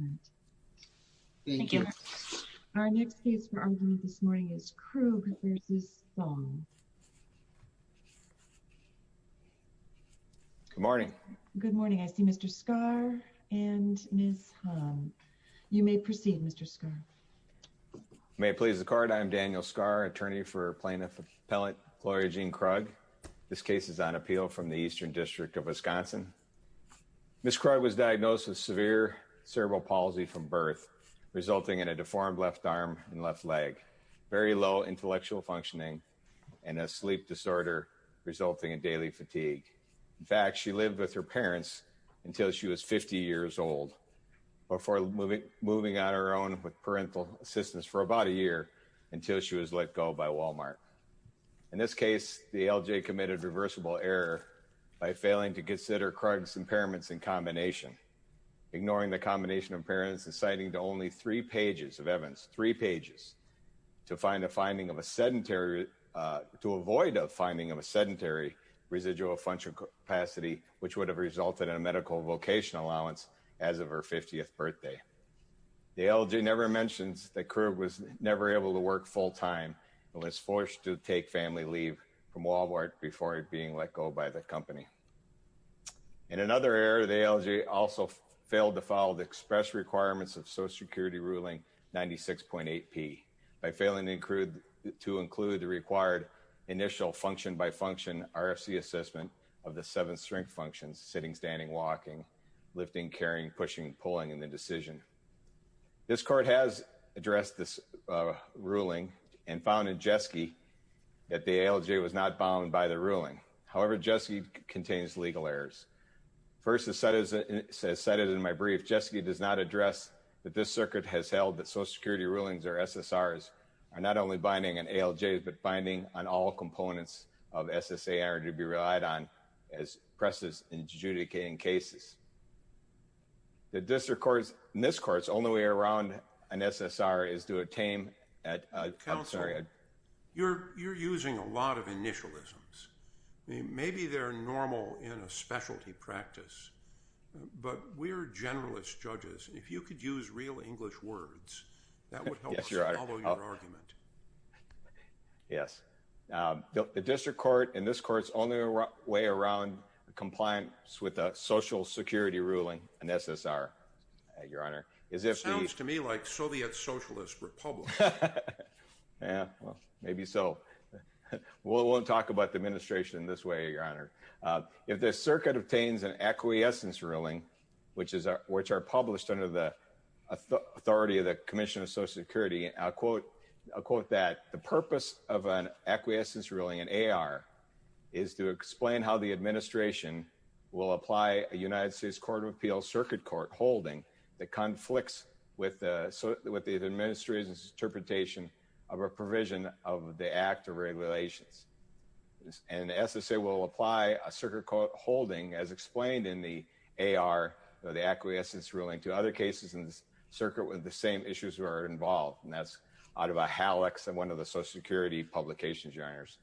Good morning. I see Mr. Skar and Ms. Hahn. You may proceed, Mr. Skar. May it please the Court, I am Daniel Skar, attorney for Plaintiff Appellant Gloria Jean Krug. This case is on appeal from the Eastern District of Wisconsin. Ms. Krug was diagnosed with severe cerebral palsy from birth, resulting in a deformed left arm and left leg, very low intellectual functioning, and a sleep disorder resulting in daily fatigue. In fact, she lived with her parents until she was 50 years old, before moving on her own with parental assistance for about a year until she was let go by Walmart. In this case, the LJ committed reversible error by failing to consider Krug's impairments in combination, ignoring the combination of impairments and citing only three pages of evidence, three pages, to find a finding of a sedentary, to avoid a finding of a sedentary residual functional capacity, which would have resulted in a medical vocation allowance as of her 50th birthday. The LJ never mentions that Krug was never able to work full time and was forced to take family leave from Walmart before being let go by the company. In another error, the LJ also failed to follow the express requirements of Social Security Ruling 96.8 P, by failing to include the required initial function-by-function RFC assessment of the seven strength functions, sitting, standing, walking, lifting, carrying, pushing, pulling in the decision. This court has addressed this ruling and found in Jeske that the ALJ was not bound by the ruling. However, Jeske contains legal errors. First, as cited in my brief, Jeske does not address that this circuit has held that Social Security rulings or SSRs are not only binding on ALJs, but binding on all components of SSA error to be relied on as presses adjudicating cases. The district court's, in this court's, only way around an SSR is to attain a, I'm sorry. Counselor, you're using a lot of initialisms. Maybe they're normal in a specialty practice, but we're generalist judges. If you could use real English words, that would help us follow your argument. Yes, Your Honor. Yes. The district court, in this court's, only way around compliance with a Social Security ruling, an SSR, Your Honor, is if the... Sounds to me like Soviet Socialist Republic. Yeah, well, maybe so. We won't talk about the administration in this way, Your Honor. If the circuit obtains an acquiescence ruling, which are published under the authority of the Commission of Social Security, I'll quote that, the purpose of an acquiescence ruling in AR is to explain how the administration will apply a United States Court of Appeals circuit court holding that conflicts with the administration's interpretation of a provision of the Act of Regulations. And the SSA will apply a circuit court holding as explained in the AR or the acquiescence ruling to other cases in the circuit with the same issues that are involved. And that's out of a hallux of one of the Social Security publications, Your Honors.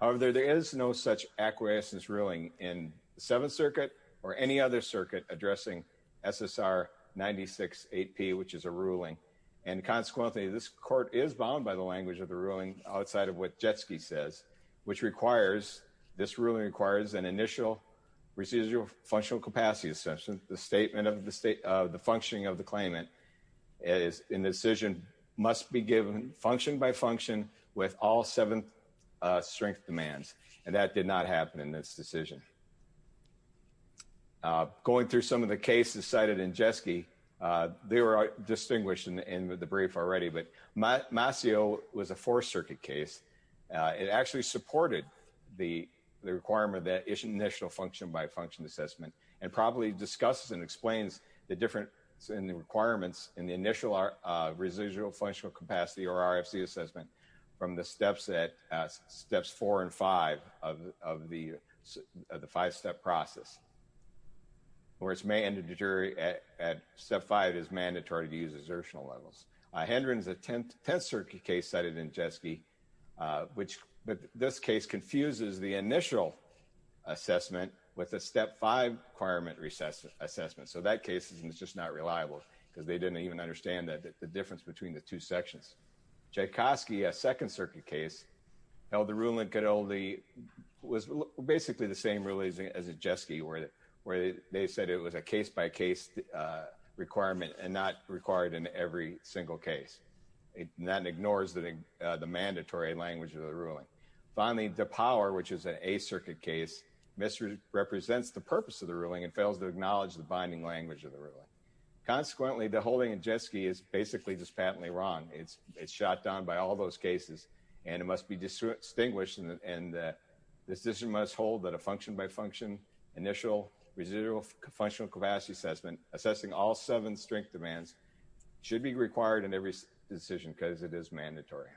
However, there is no such acquiescence ruling in the Seventh Circuit or any other circuit addressing SSR 96-8P, which is a ruling. And consequently, this court is bound by the language of the ruling outside of what Jetski says, which requires, this ruling requires an initial procedural functional capacity assessment. The statement of the state of the functioning of the claimant is in the decision must be given function by function with all seven strength demands. And that did not happen in this decision. Going through some of the cases cited in Jetski, they were distinguished in the brief already, but Masio was a Fourth Circuit case. It actually supported the requirement of that initial function by function assessment and probably discusses and explains the difference in the requirements in the initial residual functional capacity or RFC assessment from the steps that, steps four and five of the five-step process. Where it's mandatory at step five is mandatory to use exertional levels. Hendron is a Tenth Circuit case cited in Jetski, which this case confuses the initial assessment with a step five requirement assessment. So that case is just not reliable because they didn't even understand the difference between the two sections. Jankowski, a Second Circuit case, held the ruling, was basically the same ruling as Jetski, where they said it was a mandatory language of the ruling. Finally, DePower, which is an Eighth Circuit case, misrepresents the purpose of the ruling and fails to acknowledge the binding language of the ruling. Consequently, the holding in Jetski is basically just patently wrong. It's shot down by all those cases, and it must be distinguished in the decision must hold that a function by function initial residual functional capacity assessment assessing all seven strength demands should be required in every decision because it is mandatory.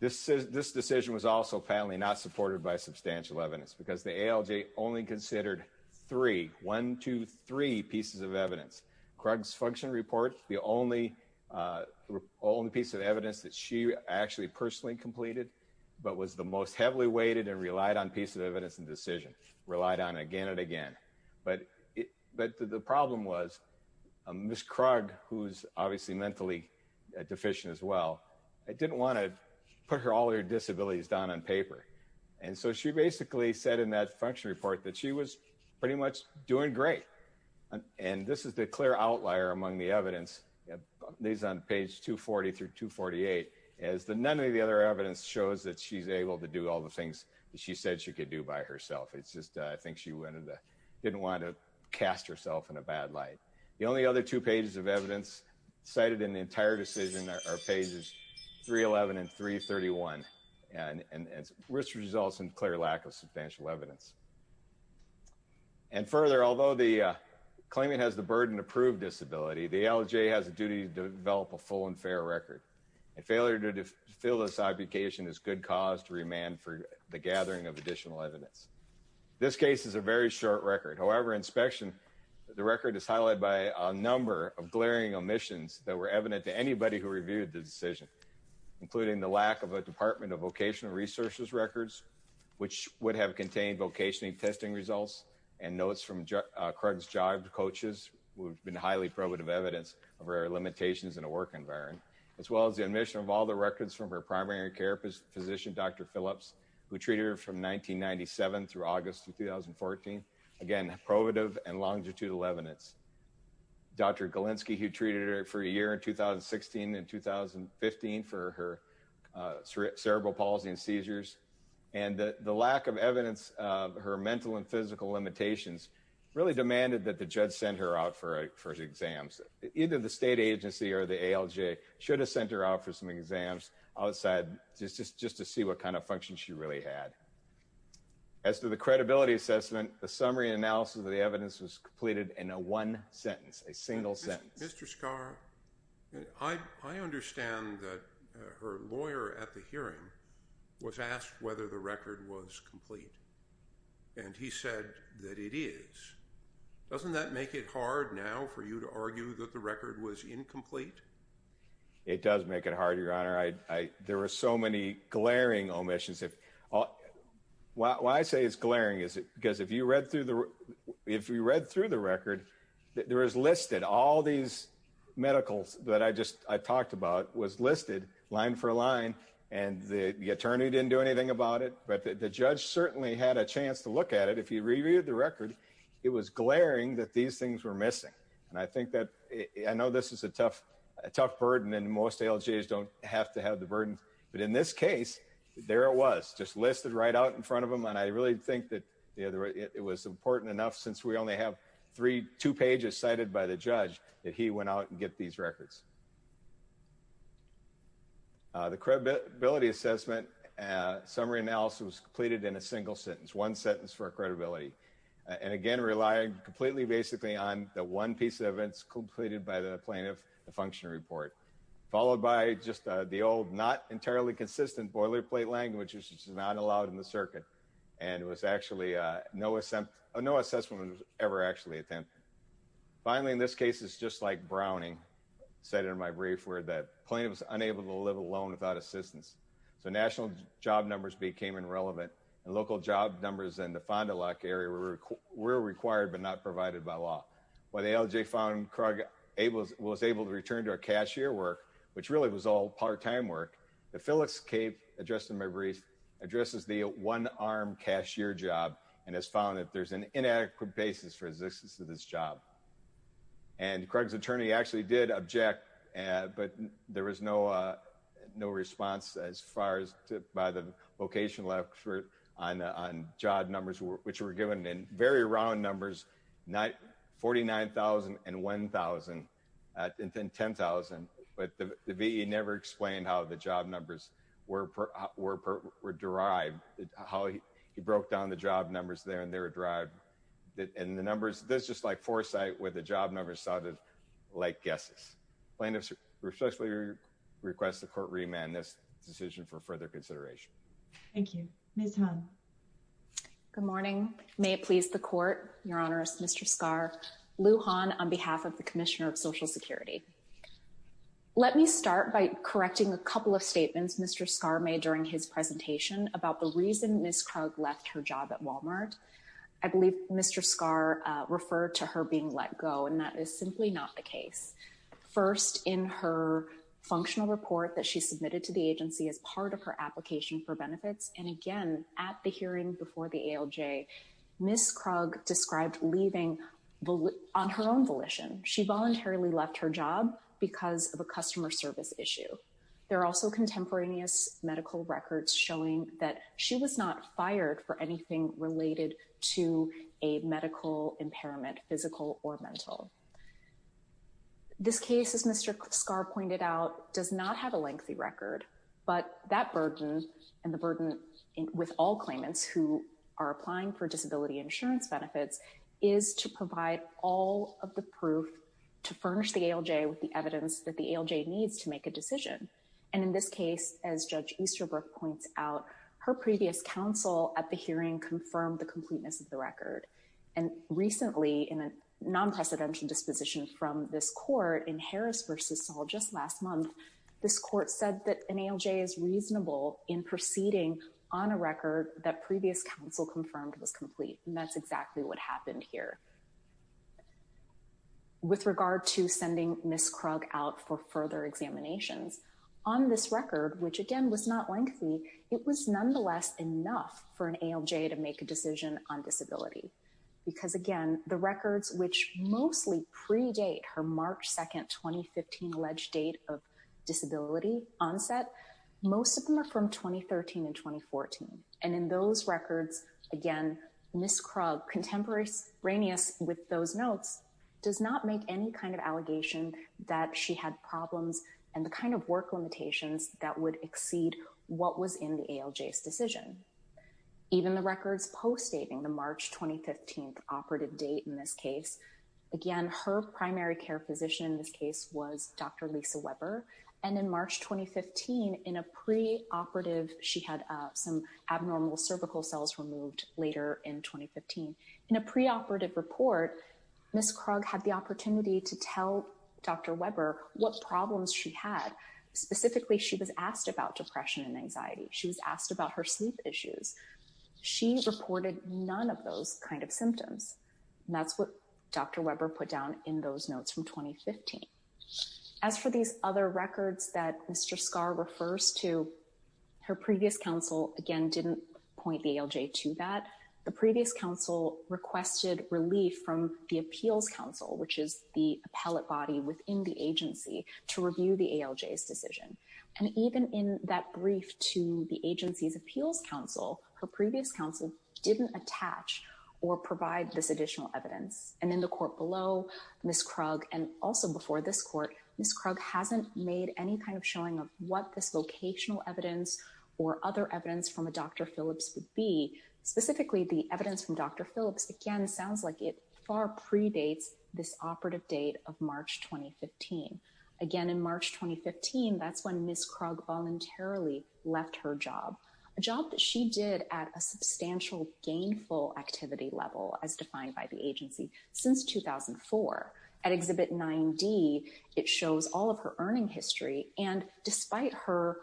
This decision was also patently not supported by substantial evidence because the ALJ only considered three, one, two, three pieces of evidence. Krug's function report, the only piece of evidence that she actually personally completed, but was the most heavily weighted and relied on piece of evidence and decision, relied on again and again. But the problem was Ms. Krug, who's obviously mentally deficient as well, didn't want to put all her disabilities down on paper. And so she basically said in that function report that she was pretty much doing great. And this is the clear outlier among the evidence, these on page 240 through 248, as none of the other evidence shows that she's able to do all the things that she said she could do by herself. It's just I think she didn't want to cast herself in a bad light. The only other two pages of evidence cited in the entire decision are pages 311 and 331, and this results in clear lack of substantial evidence. And further, although the claimant has the burden to prove disability, the ALJ has a duty to develop a full and fair record. And failure to fulfill this obligation is good cause to remand for the gathering of additional evidence. This case is a very short record. However, inspection, the record is highlighted by a number of glaring omissions that were evident to anybody who reviewed the decision, including the lack of a Department of Vocational Research's records, which would have contained vocational testing results and notes from Krug's job coaches, which have been highly probative evidence of her limitations in a work environment, as well as the omission of all the records from her primary care physician, Dr. Phillips, who treated her from 1997 through August of 2014. Again, probative and longitudinal evidence. Dr. Galinsky, who treated her for a year in 2016 and 2015 for her cerebral palsy and seizures, and the lack of evidence of her mental and physical limitations really demanded that the judge send her out for exams. Either the state agency or the ALJ should have sent her out for some exams outside just to see what kind of functions she really had. As to the credibility assessment, the summary analysis of the evidence was completed in a one sentence, a single sentence. Mr. Scarr, I understand that her lawyer at the hearing was asked whether the record was complete, and he said that it is. Doesn't that make it hard now for you to argue that the record was incomplete? It does make it hard, Your Honor. There were so many glaring omissions. Why I say it's glaring is because if you read through the record, there is listed all these medicals that I talked about was listed line for line, and the attorney didn't do anything about it, but the judge certainly had a chance to look at it. If you reviewed the record, it was glaring that these things were missing. I know this is a tough burden, and most ALJs don't have to have the burden, but in this case, it was important enough since we only have two pages cited by the judge that he went out and get these records. The credibility assessment summary analysis was completed in a single sentence, one sentence for credibility, and again, relying completely basically on the one piece of evidence completed by the plaintiff, the function report, followed by just the old not entirely consistent boilerplate language which is not allowed in the circuit, and it was actually no assessment was ever actually attempted. Finally, in this case, it's just like Browning said in my brief where the plaintiff was unable to live alone without assistance, so national job numbers became irrelevant, and local job numbers in the Fond du Lac area were required but not provided by law. While the ALJ found Krug was able to return to her cashier work, which really was all part-time work, the Phillips Cave address in my brief addresses the one-armed cashier job and has found that there's an inadequate basis for existence of this job. And Krug's attorney actually did object, but there was no response as far as by the location left on job numbers which were given in very round numbers, 49,000 and 1,000, and 10,000, but the VE never explained how the job numbers were derived, how he broke down the job numbers there and they were derived, and the numbers, this is just like foresight where the job numbers sounded like guesses. Plaintiff respectfully requests the court remand this decision for further consideration. Thank you. Ms. Hahn. Good morning. May it please the court, Your Honor, Mr. Skar. Lou Hahn on behalf of the Commissioner of Social Security. Let me start by correcting a couple of statements Mr. Skar made during his presentation about the reason Ms. Krug left her job at Walmart. I believe Mr. Skar referred to her being let go, and that is simply not the case. First, in her functional report that she submitted to the agency as part of her application for Ms. Krug described leaving on her own volition. She voluntarily left her job because of a customer service issue. There are also contemporaneous medical records showing that she was not fired for anything related to a medical impairment, physical or mental. This case, as Mr. Skar pointed out, does not have a lengthy record, but that burden and the burden with all claimants who are applying for disability insurance benefits is to provide all of the proof to furnish the ALJ with the evidence that the ALJ needs to make a decision. And in this case, as Judge Easterbrook points out, her previous counsel at the hearing confirmed the completeness of the record. And recently, in a non-precedential disposition from this court in Harris v. Saul just last month, this court said that an ALJ is reasonable in proceeding on a record that previous counsel confirmed was complete. And that's exactly what happened here. With regard to sending Ms. Krug out for further examinations, on this record, which again was not lengthy, it was nonetheless enough for an ALJ to make a decision on disability. Because again, the records which mostly predate her March 2, 2015 alleged date of disability onset, most of them are from 2013 and 2014. And in those records, again, Ms. Krug, contemporaneous with those notes, does not make any kind of allegation that she had problems and the kind of work limitations that would exceed what was in the ALJ's decision. Even the records postdating the March 2015 operative date in this case, again, her primary care physician in this case was Dr. Lisa Weber. And in March 2015, in a preoperative, she had some abnormal cervical cells removed later in 2015. In a preoperative report, Ms. Krug had the opportunity to tell Dr. Weber what problems she had. Specifically, she was asked about depression and anxiety. She was asked about her sleep issues. She reported none of those kind of symptoms. And that's what Dr. Weber put down in those notes from 2015. As for these other records that Mr. Scarr refers to, her previous counsel, again, didn't point the ALJ to that. The previous counsel requested relief from the appeals counsel, which is the appellate body within the agency, to review the ALJ's decision. And even in that brief to the agency's appeals counsel, her previous counsel didn't attach or provide this additional evidence. And in the court below, Ms. Krug, and also before this court, Ms. Krug hasn't made any kind of showing of what this vocational evidence or other evidence from a Dr. Phillips would be. Specifically, the evidence from Dr. Phillips, again, sounds like it far predates this operative date of March 2015. Again, in March 2015, that's when Ms. Krug voluntarily left her job, a job that she did at a substantial gainful activity level, as defined by the agency, since 2004. At Exhibit 9D, it shows all of her earning history. And despite her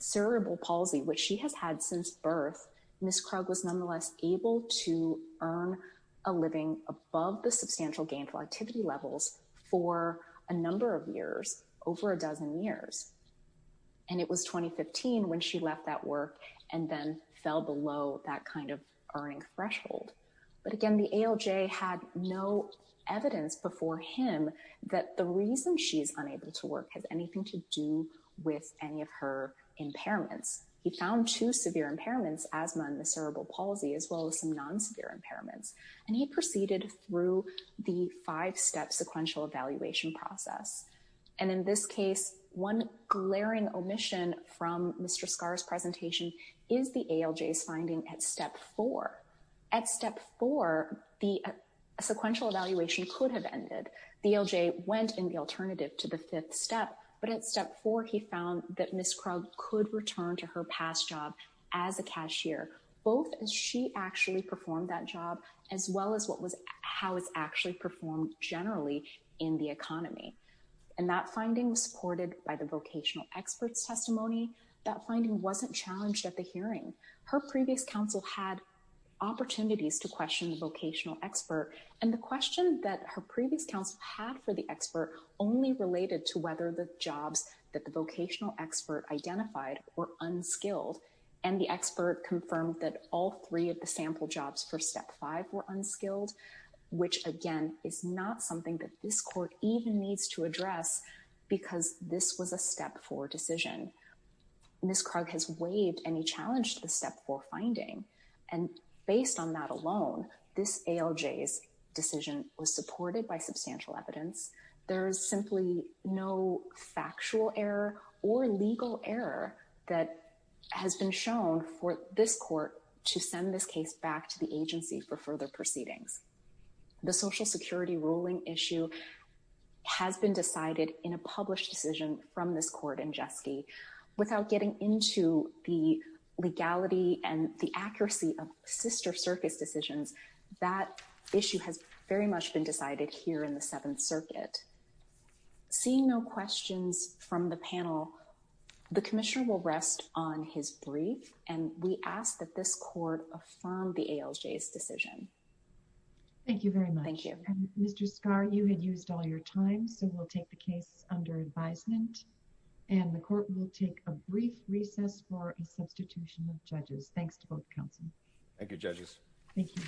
cerebral palsy, which she has had since birth, Ms. Krug was nonetheless able to earn a living above the substantial gainful activity levels for a number of years, over a dozen years. And it was 2015 when she left that work and then fell below that kind of earning threshold. But again, the ALJ had no evidence before him that the reason she's unable to work has anything to do with any of her impairments. He found two severe impairments, asthma and the cerebral palsy, as well as some non-severe impairments. And he proceeded through the five-step sequential evaluation process. And in this case, one glaring omission from Mr. Scarr's presentation is the ALJ's finding at Step 4. At Step 4, the sequential evaluation could have ended. The ALJ went in the alternative to the fifth step. But at Step 4, he found that Ms. Krug could return to her past job as a cashier, both as she actually performed that job, as well as how it's actually performed generally in the economy. And that finding was supported by the vocational experts' testimony. That finding wasn't challenged at the hearing. Her previous counsel had opportunities to question the vocational expert. And the question that her previous counsel had for the expert only related to whether the jobs that the vocational expert identified were unskilled. And the expert confirmed that all three of the sample jobs for Step 5 were unskilled, which, again, is not something that this court even needs to address because this was a Step 4 decision. Ms. Krug has waived any challenge to the Step 4 finding. And based on that alone, this ALJ's decision was supported by substantial evidence. There is simply no factual error or legal error that has been shown for this court to send this case back to the agency for further proceedings. The Social Security ruling issue has been decided in a published decision from this And based on the accuracy of sister circus decisions, that issue has very much been decided here in the Seventh Circuit. Seeing no questions from the panel, the Commissioner will rest on his brief. And we ask that this court affirm the ALJ's decision. Thank you very much. Thank you. Mr. Skahr, you had used all your time, so we'll take the case under advisement. And the court will take a brief recess for a substitution of judges. Thanks to both counsel. Thank you, judges. Thank you.